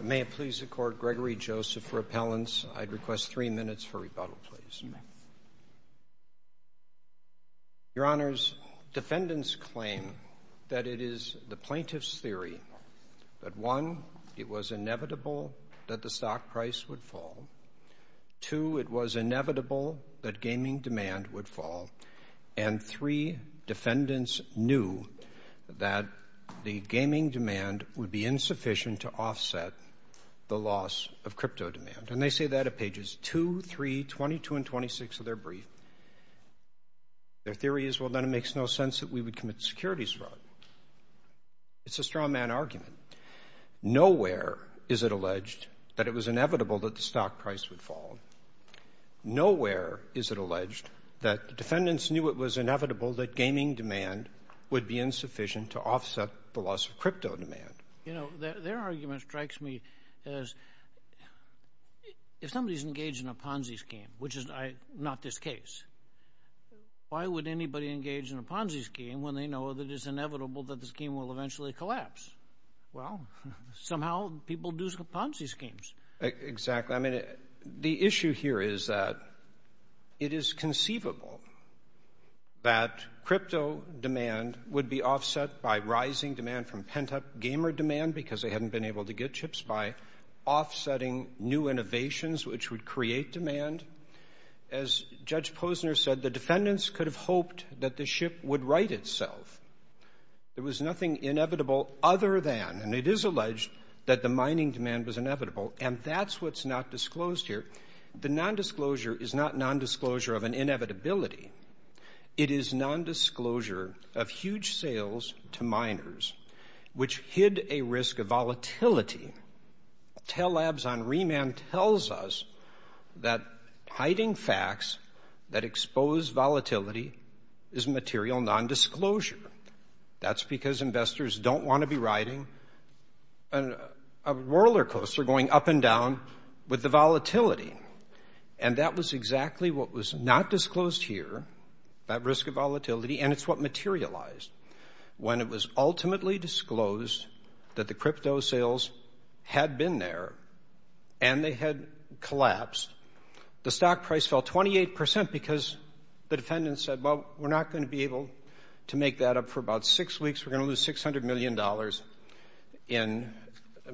May it please the Court, Gregory Joseph for appellants. I'd request three minutes for rebuttal, please. Your Honors, defendants claim that it is the plaintiff's theory that, one, it was inevitable that the stock price would fall, two, it was inevitable that gaming demand would fall, and three, defendants knew that the gaming demand would be insufficient to offset the loss of crypto demand. And they say that at pages 2, 3, 22, and 26 of their brief. Their theory is, well, then it makes no sense that we would commit securities fraud. It's a strongman argument. Nowhere is it alleged that it was inevitable that the stock price would fall. Nowhere is it alleged that defendants knew it was inevitable that gaming demand would be insufficient to offset the loss of crypto demand. You know, their argument strikes me as, if somebody's engaged in a Ponzi scheme, which is not this case, why would anybody engage in a Ponzi scheme when they know that it's inevitable that the scheme will eventually collapse? Well, somehow people do Ponzi schemes. Exactly. I mean, the issue here is that it is conceivable that crypto demand would be offset by rising demand from pent-up gamer demand because they hadn't been able to get chips by offsetting new innovations, which would create demand. As Judge Posner said, the defendants could have hoped that the ship would right itself. There was nothing inevitable other than, and it is alleged that the mining demand was inevitable, and that's what's not disclosed here. The nondisclosure is not nondisclosure of an inevitability. It is nondisclosure of huge sales to miners, which hid a risk of volatility. Telabs on remand tells us that hiding facts that expose volatility is material nondisclosure. That's because investors don't want to be riding a roller coaster going up and down with the volatility. And that was exactly what was not disclosed here, that risk of volatility, and it's what materialized. When it was ultimately disclosed that the crypto sales had been there and they had collapsed, the stock price fell 28 percent because the defendants said, well, we're not going to be able to make that up for about six weeks. We're going to lose $600 million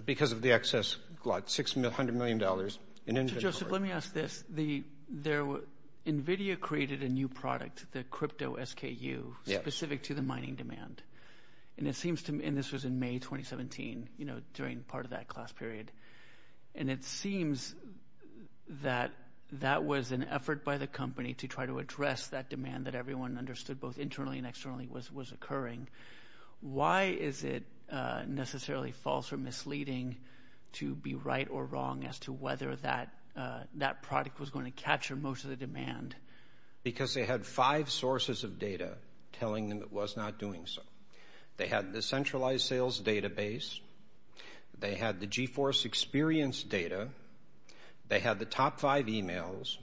because of the excess glut, $600 million in inventory. Joseph, let me ask this. NVIDIA created a new product, the Crypto SKU, specific to the mining demand. And this was in May 2017, during part of that class period. And it seems that that was an effort by the company to try to address that demand that everyone understood both internally and externally was occurring. Why is it necessarily false or misleading to be right or wrong as to whether that product was going to capture most of the demand? Because they had five sources of data telling them it was not doing so. They had the centralized sales database. They had the GeForce experience data. They had the top five emails.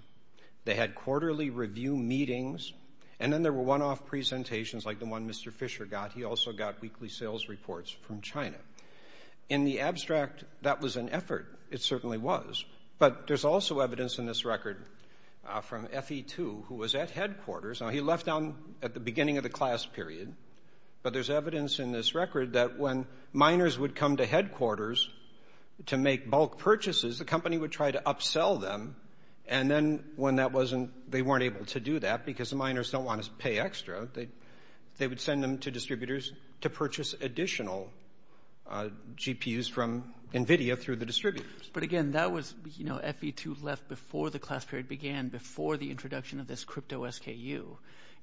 They had quarterly review meetings. And then there were one-off presentations like the one Mr. Fisher got. He also got weekly sales reports from China. In the abstract, that was an effort. It certainly was. But there's also evidence in this record from FE2 who was at headquarters. Now, he left down at the beginning of the class period. But there's evidence in this record that when miners would come to headquarters to make bulk purchases, the company would try to upsell them. And then when they weren't able to do that because the miners don't want to pay extra, they would send them to distributors to purchase additional GPUs from NVIDIA through the distributors. But, again, that was FE2 left before the class period began, before the introduction of this crypto SKU.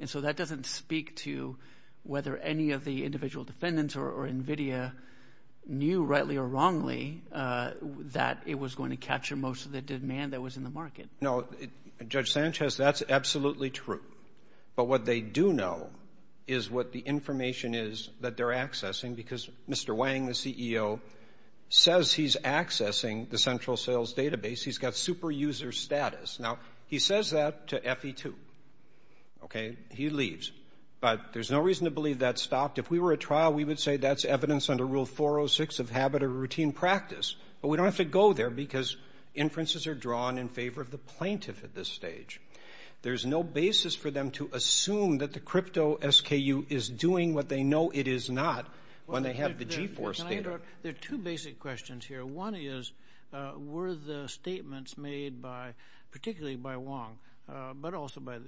And so that doesn't speak to whether any of the individual defendants or NVIDIA knew rightly or wrongly that it was going to capture most of the demand that was in the market. No, Judge Sanchez, that's absolutely true. But what they do know is what the information is that they're accessing because Mr. Wang, the CEO, says he's accessing the central sales database. He's got super user status. Now, he says that to FE2. Okay? He leaves. But there's no reason to believe that stopped. If we were at trial, we would say that's evidence under Rule 406 of habit or routine practice. But we don't have to go there because inferences are drawn in favor of the plaintiff at this stage. There's no basis for them to assume that the crypto SKU is doing what they know it is not when they have the G4 standard. Can I interrupt? There are two basic questions here. One is were the statements made particularly by Wang but also by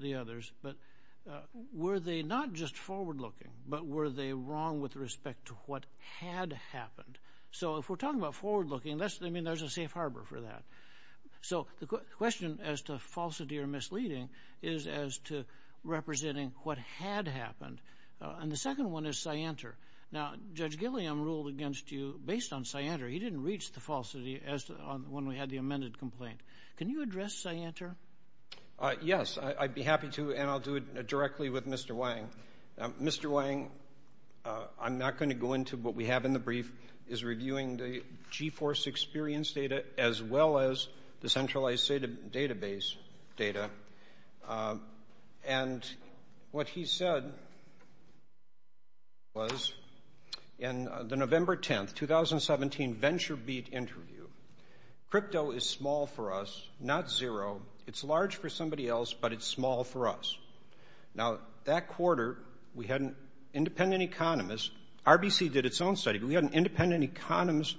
the others, but were they not just forward-looking but were they wrong with respect to what had happened? So if we're talking about forward-looking, I mean, there's a safe harbor for that. So the question as to falsity or misleading is as to representing what had happened. And the second one is scienter. Now, Judge Gilliam ruled against you based on scienter. He didn't reach the falsity as to when we had the amended complaint. Can you address scienter? Yes, I'd be happy to, and I'll do it directly with Mr. Wang. Mr. Wang, I'm not going to go into what we have in the brief, is reviewing the G-Force experience data as well as the centralized database data. And what he said was in the November 10, 2017, VentureBeat interview, crypto is small for us, not zero. It's large for somebody else, but it's small for us. Now, that quarter, we had an independent economist. RBC did its own study, but we had an independent economist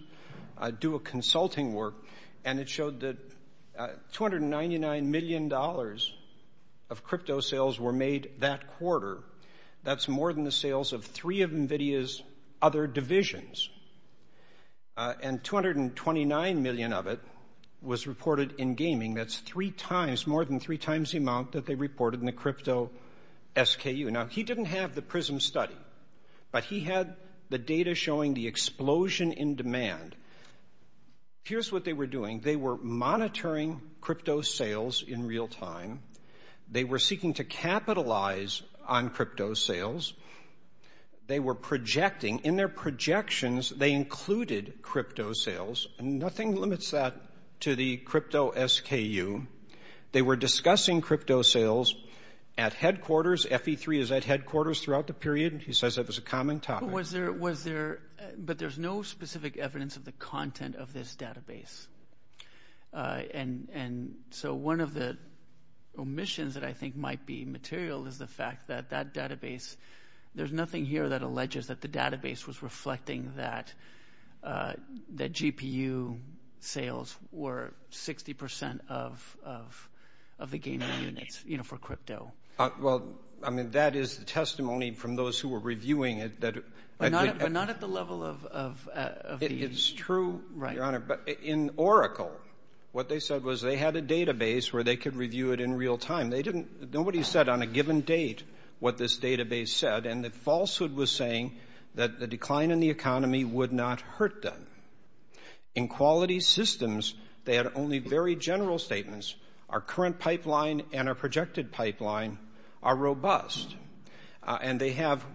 do a consulting work, and it showed that $299 million of crypto sales were made that quarter. That's more than the sales of three of NVIDIA's other divisions. And $229 million of it was reported in gaming. That's three times, more than three times the amount that they reported in the crypto SKU. Now, he didn't have the PRISM study, but he had the data showing the explosion in demand. Here's what they were doing. They were monitoring crypto sales in real time. They were seeking to capitalize on crypto sales. They were projecting. In their projections, they included crypto sales. Nothing limits that to the crypto SKU. They were discussing crypto sales at headquarters. FE3 is at headquarters throughout the period. He says that was a common topic. But there's no specific evidence of the content of this database. So one of the omissions that I think might be material is the fact that that database, there's nothing here that alleges that the database was reflecting that GPU sales were 60% of the gaming units for crypto. Well, I mean, that is the testimony from those who were reviewing it. But not at the level of the. It's true, Your Honor. But in Oracle, what they said was they had a database where they could review it in real time. Nobody said on a given date what this database said. And the falsehood was saying that the decline in the economy would not hurt them. In quality systems, they had only very general statements. Our current pipeline and our projected pipeline are robust. And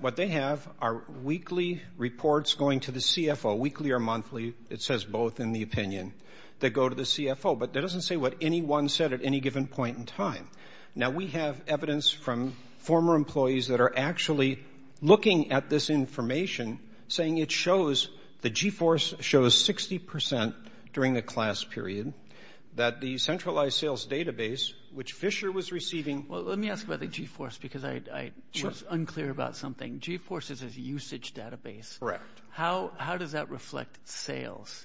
what they have are weekly reports going to the CFO, weekly or monthly. It says both in the opinion that go to the CFO. But that doesn't say what anyone said at any given point in time. Now, we have evidence from former employees that are actually looking at this information, saying it shows the G-Force shows 60% during the class period that the centralized sales database, which Fisher was receiving. Well, let me ask about the G-Force, because I was unclear about something. G-Force is a usage database. Correct. How does that reflect sales?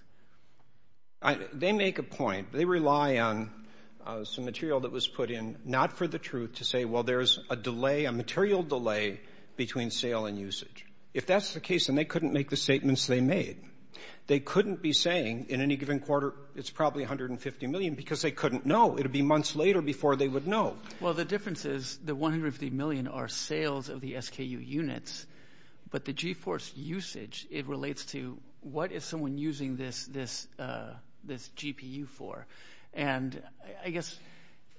They make a point. They rely on some material that was put in, not for the truth, to say, well, there's a delay, a material delay between sale and usage. If that's the case, then they couldn't make the statements they made. They couldn't be saying in any given quarter it's probably 150 million because they couldn't know. It would be months later before they would know. Well, the difference is the 150 million are sales of the SKU units. But the G-Force usage, it relates to what is someone using this GPU for. And I guess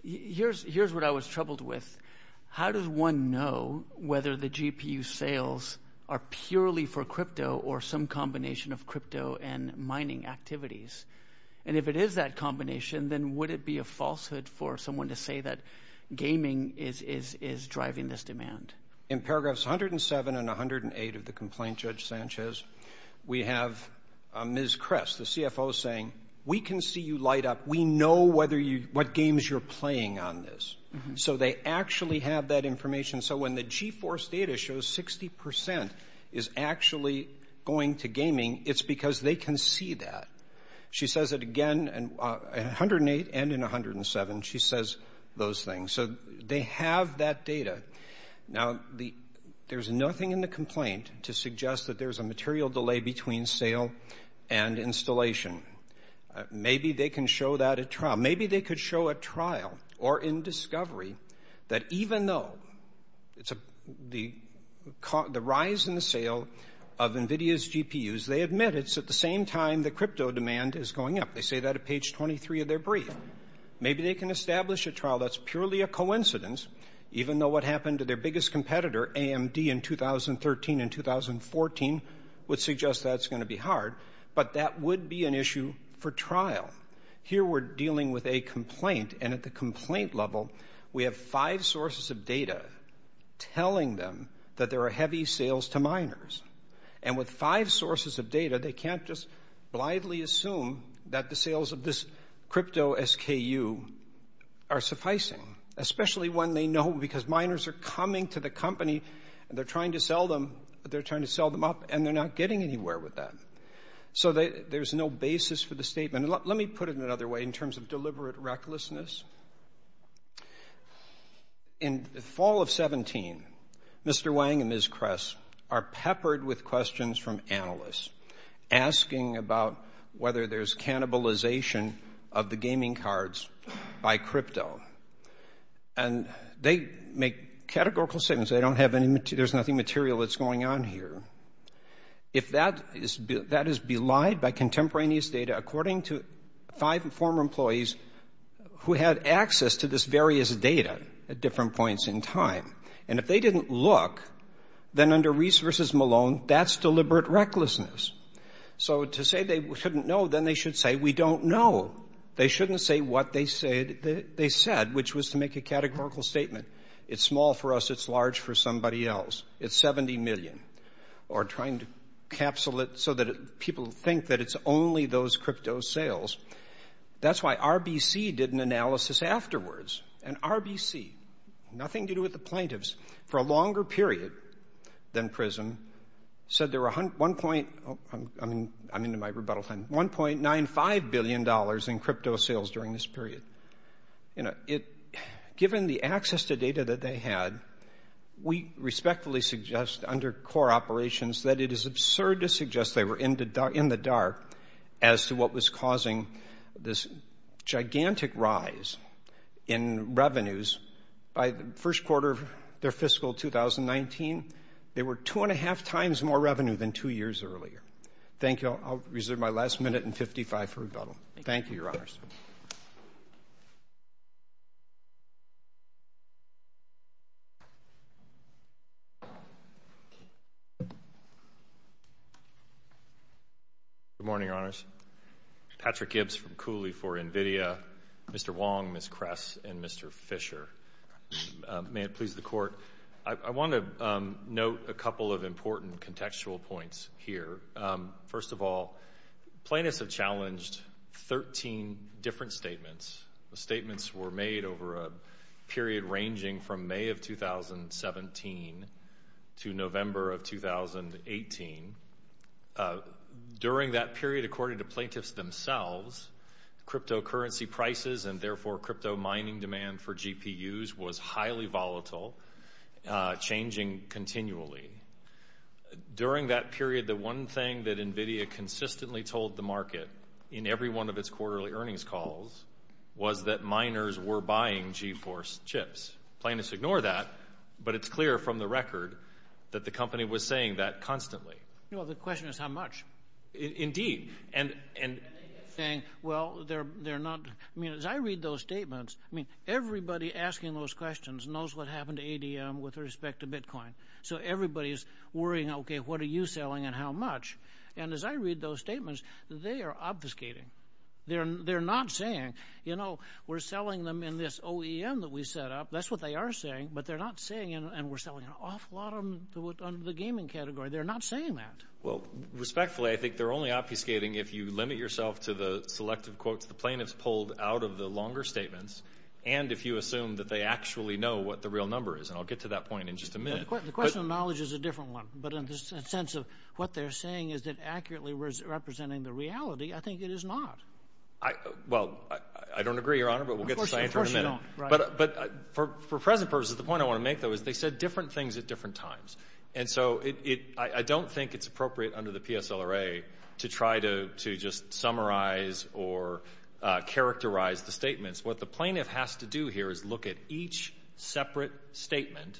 here's what I was troubled with. How does one know whether the GPU sales are purely for crypto or some combination of crypto and mining activities? And if it is that combination, then would it be a falsehood for someone to say that gaming is driving this demand? In paragraphs 107 and 108 of the complaint, Judge Sanchez, we have Ms. Kress, the CFO, saying we can see you light up. We know whether you what games you're playing on this. So they actually have that information. So when the G-Force data shows 60 percent is actually going to gaming, it's because they can see that. She says it again in 108 and in 107. She says those things. So they have that data. Now, there's nothing in the complaint to suggest that there's a material delay between sale and installation. Maybe they can show that at trial. Maybe they could show at trial or in discovery that even though the rise in the sale of NVIDIA's GPUs, they admit it's at the same time the crypto demand is going up. They say that at page 23 of their brief. Maybe they can establish at trial. That's purely a coincidence, even though what happened to their biggest competitor, AMD, in 2013 and 2014, would suggest that's going to be hard. But that would be an issue for trial. Here we're dealing with a complaint, and at the complaint level we have five sources of data telling them that there are heavy sales to miners. And with five sources of data, they can't just blithely assume that the sales of this crypto SKU are sufficing, especially when they know because miners are coming to the company and they're trying to sell them up, and they're not getting anywhere with that. So there's no basis for the statement. Let me put it another way in terms of deliberate recklessness. In the fall of 17, Mr. Wang and Ms. Kress are peppered with questions from analysts asking about whether there's cannibalization of the gaming cards by crypto. And they make categorical statements. They don't have any material. There's nothing material that's going on here. If that is belied by contemporaneous data, according to five former employees who had access to this various data at different points in time, and if they didn't look, then under Reese v. Malone, that's deliberate recklessness. So to say they shouldn't know, then they should say, we don't know. They shouldn't say what they said, which was to make a categorical statement. It's small for us. It's large for somebody else. It's $70 million. Or trying to capsule it so that people think that it's only those crypto sales. That's why RBC did an analysis afterwards. And RBC, nothing to do with the plaintiffs, for a longer period than PRISM, said there were $1.95 billion in crypto sales during this period. Given the access to data that they had, we respectfully suggest under core operations that it is absurd to suggest they were in the dark as to what was causing this gigantic rise in revenues. By the first quarter of their fiscal 2019, they were two and a half times more revenue than two years earlier. Thank you. I'll reserve my last minute and 55 for rebuttal. Thank you, Your Honors. Good morning, Your Honors. Patrick Gibbs from Cooley for NVIDIA, Mr. Wong, Ms. Kress, and Mr. Fisher. May it please the Court. I want to note a couple of important contextual points here. First of all, plaintiffs have challenged 13 different statements. The statements were made over a period ranging from May of 2017 to November of 2018. During that period, according to plaintiffs themselves, cryptocurrency prices and therefore crypto mining demand for GPUs was highly volatile, changing continually. During that period, the one thing that NVIDIA consistently told the market in every one of its quarterly earnings calls was that miners were buying GeForce chips. Plaintiffs ignore that, but it's clear from the record that the company was saying that constantly. Well, the question is how much. Indeed. And saying, well, they're not. I mean, as I read those statements, I mean, everybody asking those questions knows what happened to ADM with respect to Bitcoin. So everybody's worrying, okay, what are you selling and how much? And as I read those statements, they are obfuscating. They're not saying, you know, we're selling them in this OEM that we set up. That's what they are saying, but they're not saying, and we're selling an awful lot of them under the gaming category. They're not saying that. Well, respectfully, I think they're only obfuscating if you limit yourself to the selective quotes the plaintiffs pulled out of the longer statements and if you assume that they actually know what the real number is, and I'll get to that point in just a minute. The question of knowledge is a different one, but in the sense of what they're saying is that accurately representing the reality, I think it is not. Well, I don't agree, Your Honor, but we'll get to the science in a minute. Of course you don't. But for present purposes, the point I want to make, though, is they said different things at different times. And so I don't think it's appropriate under the PSLRA to try to just summarize or characterize the statements. What the plaintiff has to do here is look at each separate statement,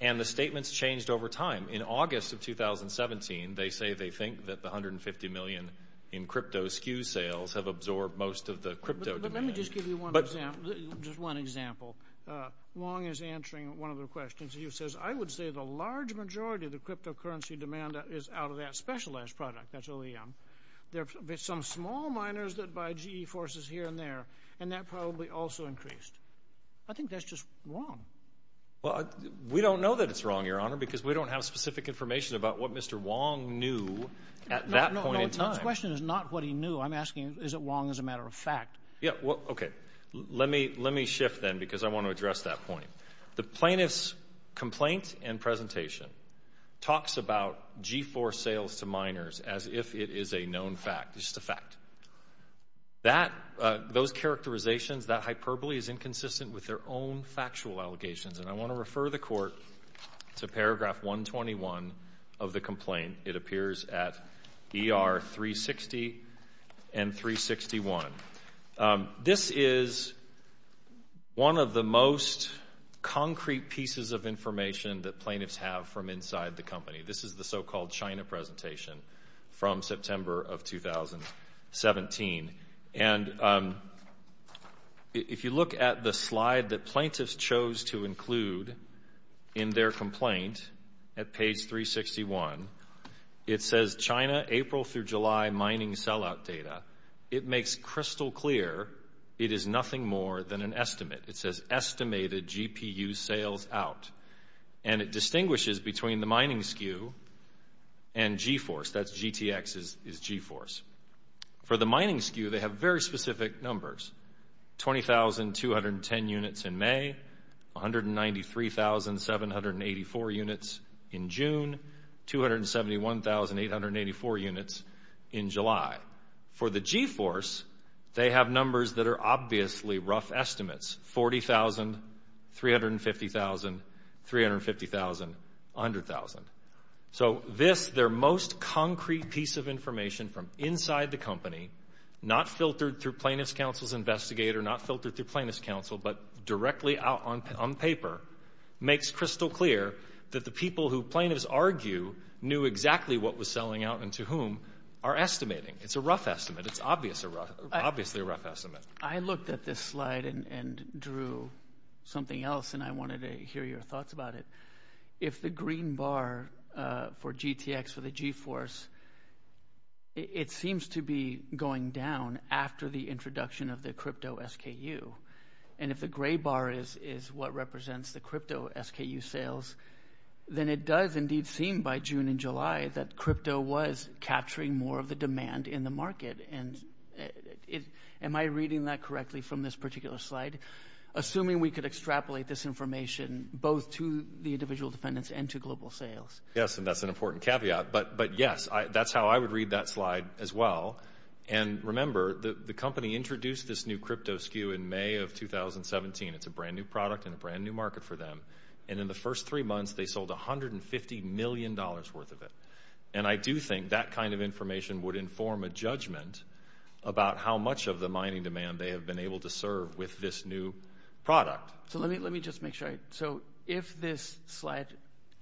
and the statements changed over time. In August of 2017, they say they think that the $150 million in crypto SKU sales have absorbed most of the crypto demand. But let me just give you one example. Wong is answering one of the questions. He says, I would say the large majority of the cryptocurrency demand is out of that specialized product, that's OEM. There are some small miners that buy GE forces here and there, and that probably also increased. I think that's just wrong. Well, we don't know that it's wrong, Your Honor, because we don't have specific information about what Mr. Wong knew at that point in time. No, no, no, his question is not what he knew. I'm asking is it wrong as a matter of fact. Yeah, well, okay. Let me shift then because I want to address that point. The plaintiff's complaint and presentation talks about G4 sales to miners as if it is a known fact. It's just a fact. Those characterizations, that hyperbole is inconsistent with their own factual allegations. And I want to refer the court to paragraph 121 of the complaint. It appears at ER 360 and 361. This is one of the most concrete pieces of information that plaintiffs have from inside the company. This is the so-called China presentation from September of 2017. And if you look at the slide that plaintiffs chose to include in their complaint at page 361, it says, China April through July mining sellout data. It makes crystal clear it is nothing more than an estimate. It says estimated GPU sales out. And it distinguishes between the mining SKU and G-Force. That's GTX is G-Force. For the mining SKU, they have very specific numbers, 20,210 units in May, 193,784 units in June, 271,884 units in July. For the G-Force, they have numbers that are obviously rough estimates, 40,000, 350,000, 350,000, 100,000. So this, their most concrete piece of information from inside the company, not filtered through Plaintiff's Counsel's investigator, not filtered through Plaintiff's Counsel, but directly out on paper makes crystal clear that the people who plaintiffs argue knew exactly what was selling out and to whom are estimating. It's a rough estimate. It's obviously a rough estimate. I looked at this slide and drew something else, and I wanted to hear your thoughts about it. If the green bar for GTX for the G-Force, it seems to be going down after the introduction of the crypto SKU. And if the gray bar is what represents the crypto SKU sales, then it does indeed seem by June and July that crypto was capturing more of the demand in the market. And am I reading that correctly from this particular slide? Assuming we could extrapolate this information both to the individual defendants and to global sales. Yes, and that's an important caveat. But, yes, that's how I would read that slide as well. And, remember, the company introduced this new crypto SKU in May of 2017. It's a brand-new product and a brand-new market for them. And in the first three months, they sold $150 million worth of it. And I do think that kind of information would inform a judgment about how much of the mining demand they have been able to serve with this new product. So let me just make sure. All right, so if this slide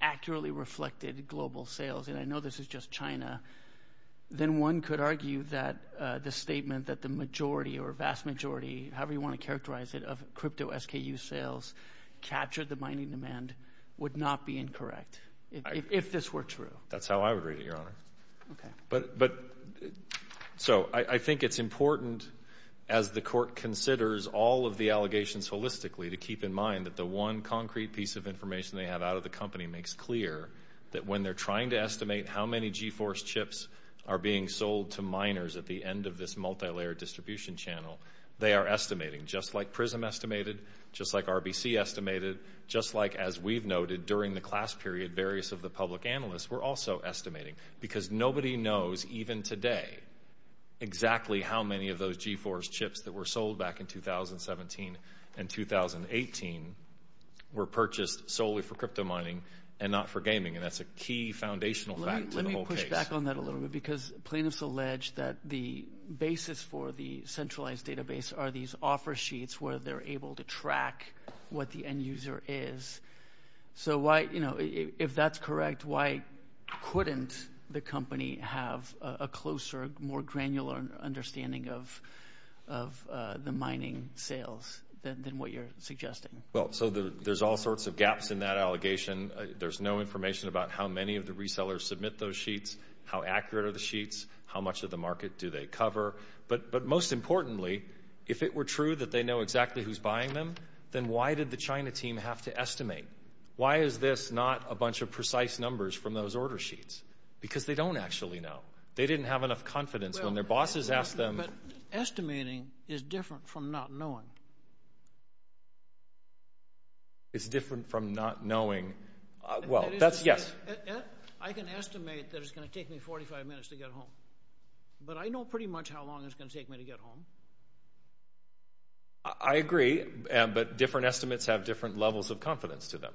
accurately reflected global sales, and I know this is just China, then one could argue that the statement that the majority or vast majority, however you want to characterize it, of crypto SKU sales captured the mining demand would not be incorrect if this were true. That's how I would read it, Your Honor. But so I think it's important, as the court considers all of the allegations holistically, to keep in mind that the one concrete piece of information they have out of the company makes clear that when they're trying to estimate how many GeForce chips are being sold to miners at the end of this multilayer distribution channel, they are estimating just like PRISM estimated, just like RBC estimated, just like, as we've noted, during the class period, various of the public analysts were also estimating. Because nobody knows, even today, exactly how many of those GeForce chips that were sold back in 2017 and 2018 were purchased solely for crypto mining and not for gaming. And that's a key foundational fact to the whole case. Let me push back on that a little bit because plaintiffs allege that the basis for the centralized database are these offer sheets where they're able to track what the end user is. So why, you know, if that's correct, why couldn't the company have a closer, more granular understanding of the mining sales than what you're suggesting? Well, so there's all sorts of gaps in that allegation. There's no information about how many of the resellers submit those sheets, how accurate are the sheets, how much of the market do they cover. But most importantly, if it were true that they know exactly who's buying them, then why did the China team have to estimate? Why is this not a bunch of precise numbers from those order sheets? Because they don't actually know. They didn't have enough confidence when their bosses asked them. But estimating is different from not knowing. It's different from not knowing. Well, that's, yes. I can estimate that it's going to take me 45 minutes to get home. But I know pretty much how long it's going to take me to get home. I agree, but different estimates have different levels of confidence to them.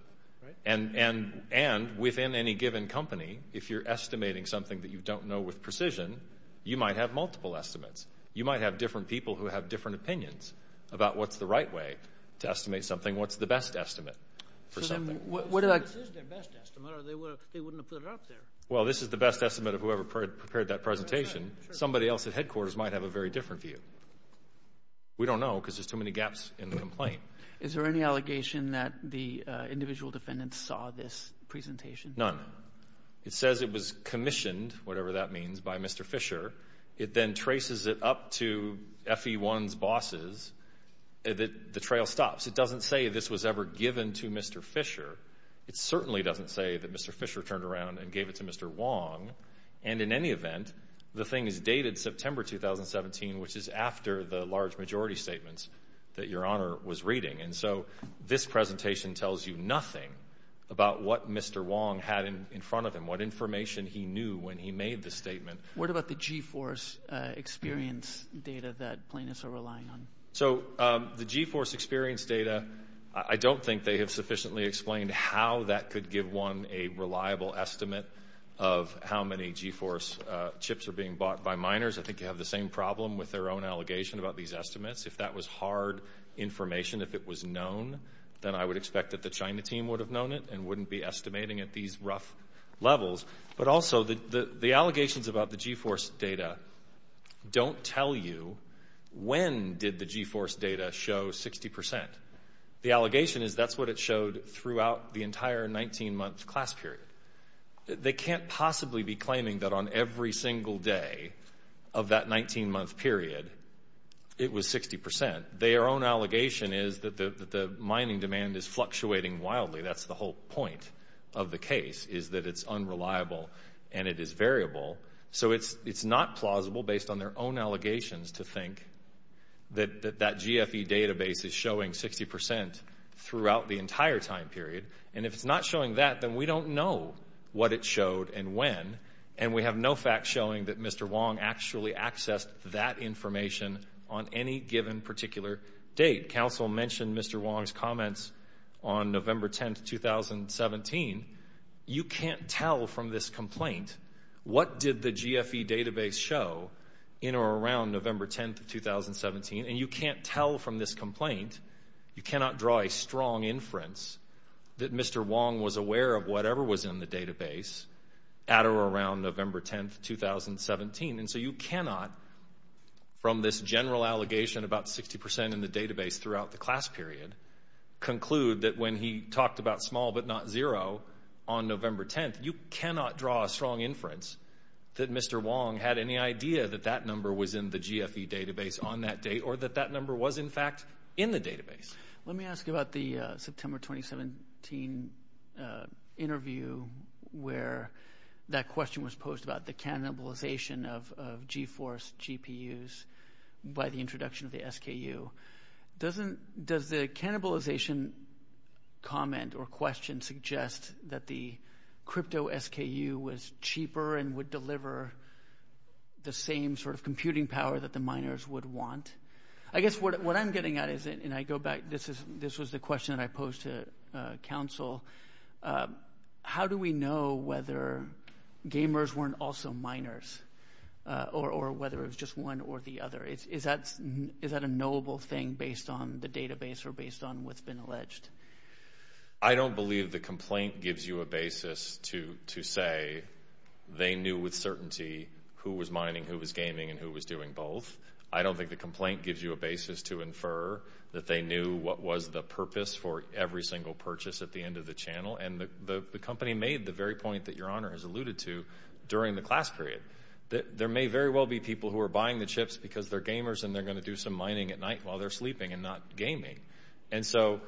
And within any given company, if you're estimating something that you don't know with precision, you might have multiple estimates. You might have different people who have different opinions about what's the right way to estimate something, what's the best estimate for something. This is their best estimate, or they wouldn't have put it up there. Well, this is the best estimate of whoever prepared that presentation. Somebody else at headquarters might have a very different view. We don't know because there's too many gaps in the complaint. Is there any allegation that the individual defendants saw this presentation? None. It says it was commissioned, whatever that means, by Mr. Fisher. It then traces it up to FE1's bosses. The trail stops. It doesn't say this was ever given to Mr. Fisher. It certainly doesn't say that Mr. Fisher turned around and gave it to Mr. Wong. And in any event, the thing is dated September 2017, which is after the large majority statements that Your Honor was reading. And so this presentation tells you nothing about what Mr. Wong had in front of him, what information he knew when he made the statement. What about the G-Force experience data that plaintiffs are relying on? So the G-Force experience data, I don't think they have sufficiently explained how that could give one a reliable estimate of how many G-Force chips are being bought by miners. I think they have the same problem with their own allegation about these estimates. If that was hard information, if it was known, then I would expect that the China team would have known it and wouldn't be estimating at these rough levels. But also the allegations about the G-Force data don't tell you when did the G-Force data show 60%. The allegation is that's what it showed throughout the entire 19-month class period. They can't possibly be claiming that on every single day of that 19-month period it was 60%. Their own allegation is that the mining demand is fluctuating wildly. That's the whole point of the case, is that it's unreliable and it is variable. So it's not plausible, based on their own allegations, to think that that GFE database is showing 60% throughout the entire time period. And if it's not showing that, then we don't know what it showed and when, and we have no facts showing that Mr. Wong actually accessed that information on any given particular date. Counsel mentioned Mr. Wong's comments on November 10, 2017. You can't tell from this complaint what did the GFE database show in or around November 10, 2017. And you can't tell from this complaint, you cannot draw a strong inference, that Mr. Wong was aware of whatever was in the database at or around November 10, 2017. And so you cannot, from this general allegation about 60% in the database throughout the class period, conclude that when he talked about small but not zero on November 10, you cannot draw a strong inference that Mr. Wong had any idea that that number was in the GFE database on that date or that that number was, in fact, in the database. Let me ask you about the September 2017 interview where that question was posed about the cannibalization of GeForce GPUs by the introduction of the SKU. Does the cannibalization comment or question suggest that the crypto SKU was cheaper and would deliver the same sort of computing power that the miners would want? I guess what I'm getting at is, and I go back, this was the question that I posed to counsel, how do we know whether gamers weren't also miners or whether it was just one or the other? Is that a knowable thing based on the database or based on what's been alleged? I don't believe the complaint gives you a basis to say they knew with certainty who was mining, who was gaming, and who was doing both. I don't think the complaint gives you a basis to infer that they knew what was the purpose for every single purchase at the end of the channel. And the company made the very point that Your Honor has alluded to during the class period. There may very well be people who are buying the chips because they're gamers and they're going to do some mining at night while they're sleeping and not gaming. And so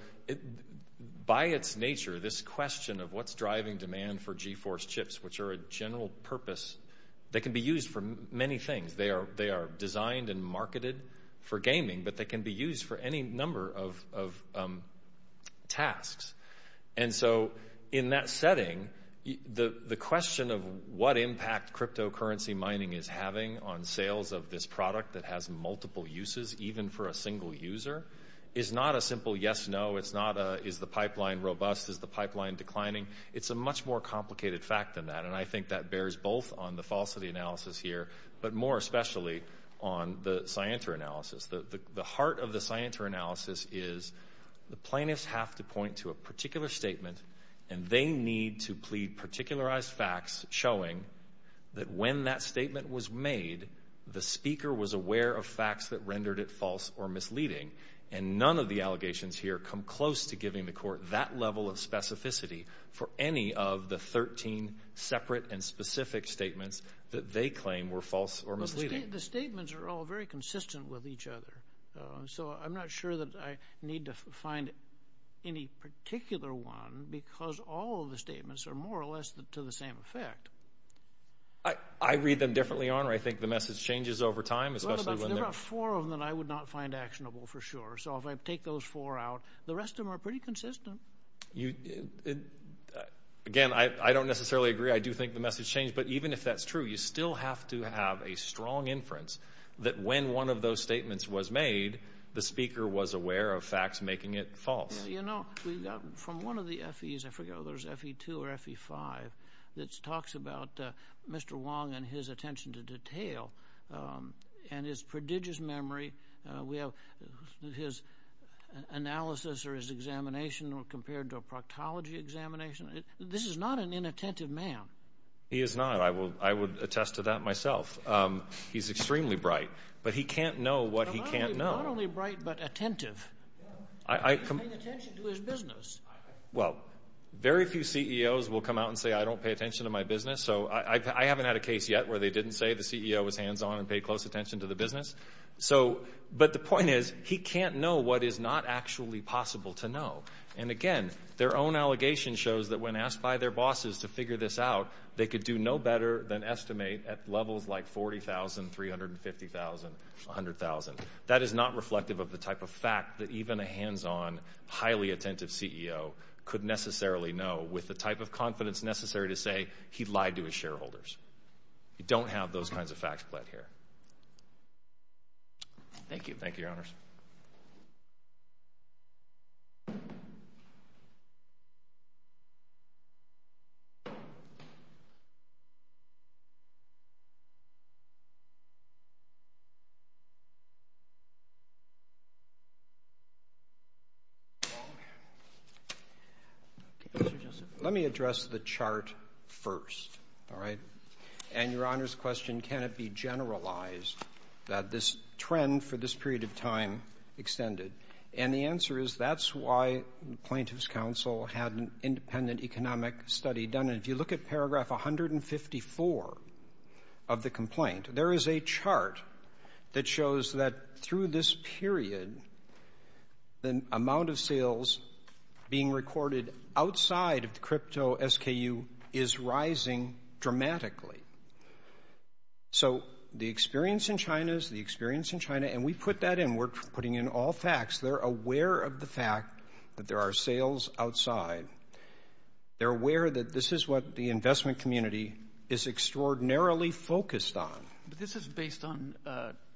by its nature, this question of what's driving demand for GeForce chips, which are a general purpose, they can be used for many things. They are designed and marketed for gaming, but they can be used for any number of tasks. And so in that setting, the question of what impact cryptocurrency mining is having on sales of this product that has multiple uses even for a single user is not a simple yes, no. It's not a is the pipeline robust, is the pipeline declining. It's a much more complicated fact than that, and I think that bears both on the falsity analysis here but more especially on the scienter analysis. The heart of the scienter analysis is the plaintiffs have to point to a particular statement and they need to plead particularized facts showing that when that statement was made, the speaker was aware of facts that rendered it false or misleading. And none of the allegations here come close to giving the court that level of specificity for any of the 13 separate and specific statements that they claim were false or misleading. The statements are all very consistent with each other, so I'm not sure that I need to find any particular one because all of the statements are more or less to the same effect. I read them differently on, or I think the message changes over time. There are four of them that I would not find actionable for sure, so if I take those four out, the rest of them are pretty consistent. Again, I don't necessarily agree. I do think the message changed, but even if that's true, you still have to have a strong inference that when one of those statements was made, the speaker was aware of facts making it false. You know, from one of the FEs, I forget whether it was FE2 or FE5, that talks about Mr. Wong and his attention to detail and his prodigious memory. We have his analysis or his examination compared to a proctology examination. This is not an inattentive man. He is not. I would attest to that myself. He's extremely bright, but he can't know what he can't know. Not only bright, but attentive. He's paying attention to his business. Well, very few CEOs will come out and say, I don't pay attention to my business. So I haven't had a case yet where they didn't say the CEO was hands-on and paid close attention to the business. But the point is, he can't know what is not actually possible to know. And, again, their own allegation shows that when asked by their bosses to figure this out, they could do no better than estimate at levels like 40,000, 350,000, 100,000. That is not reflective of the type of fact that even a hands-on, highly attentive CEO could necessarily know with the type of confidence necessary to say he lied to his shareholders. You don't have those kinds of facts here. Thank you. Thank you, Your Honors. Let me address the chart first, all right? And Your Honor's question, can it be generalized that this trend for this period of time extended? And the answer is, that's why the Plaintiffs' Council had an independent economic study done. And if you look at paragraph 154 of the complaint, there is a chart that shows that through this period, the amount of sales being recorded outside of the crypto SKU is rising dramatically. So the experience in China is the experience in China, and we put that in. We're putting in all facts. They're aware of the fact that there are sales outside. They're aware that this is what the investment community is extraordinarily focused on. But this is based on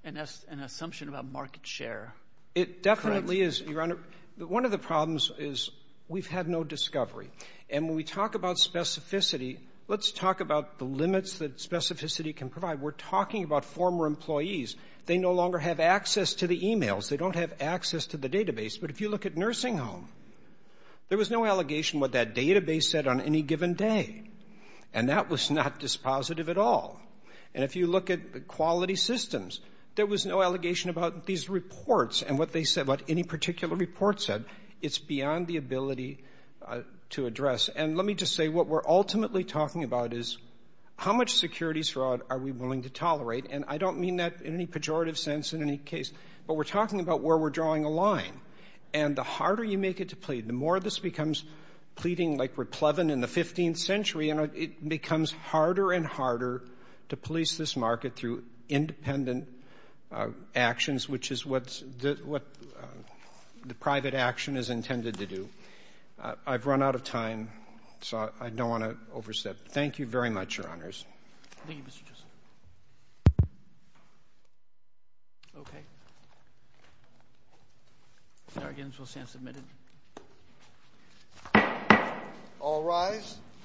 an assumption about market share, correct? Well, it certainly is, Your Honor. One of the problems is we've had no discovery. And when we talk about specificity, let's talk about the limits that specificity can provide. We're talking about former employees. They no longer have access to the e-mails. They don't have access to the database. But if you look at Nursing Home, there was no allegation what that database said on any given day, and that was not dispositive at all. And if you look at Quality Systems, there was no allegation about these reports and what they said, what any particular report said. It's beyond the ability to address. And let me just say what we're ultimately talking about is how much securities fraud are we willing to tolerate, and I don't mean that in any pejorative sense in any case. But we're talking about where we're drawing a line. And the harder you make it to plead, the more this becomes pleading like we're pleading in the 15th century, and it becomes harder and harder to police this market through independent actions, which is what the private action is intended to do. I've run out of time, so I don't want to overstep. Thank you very much, Your Honors. Thank you, Mr. Chisholm. Okay. The arguments will stand submitted. All rise.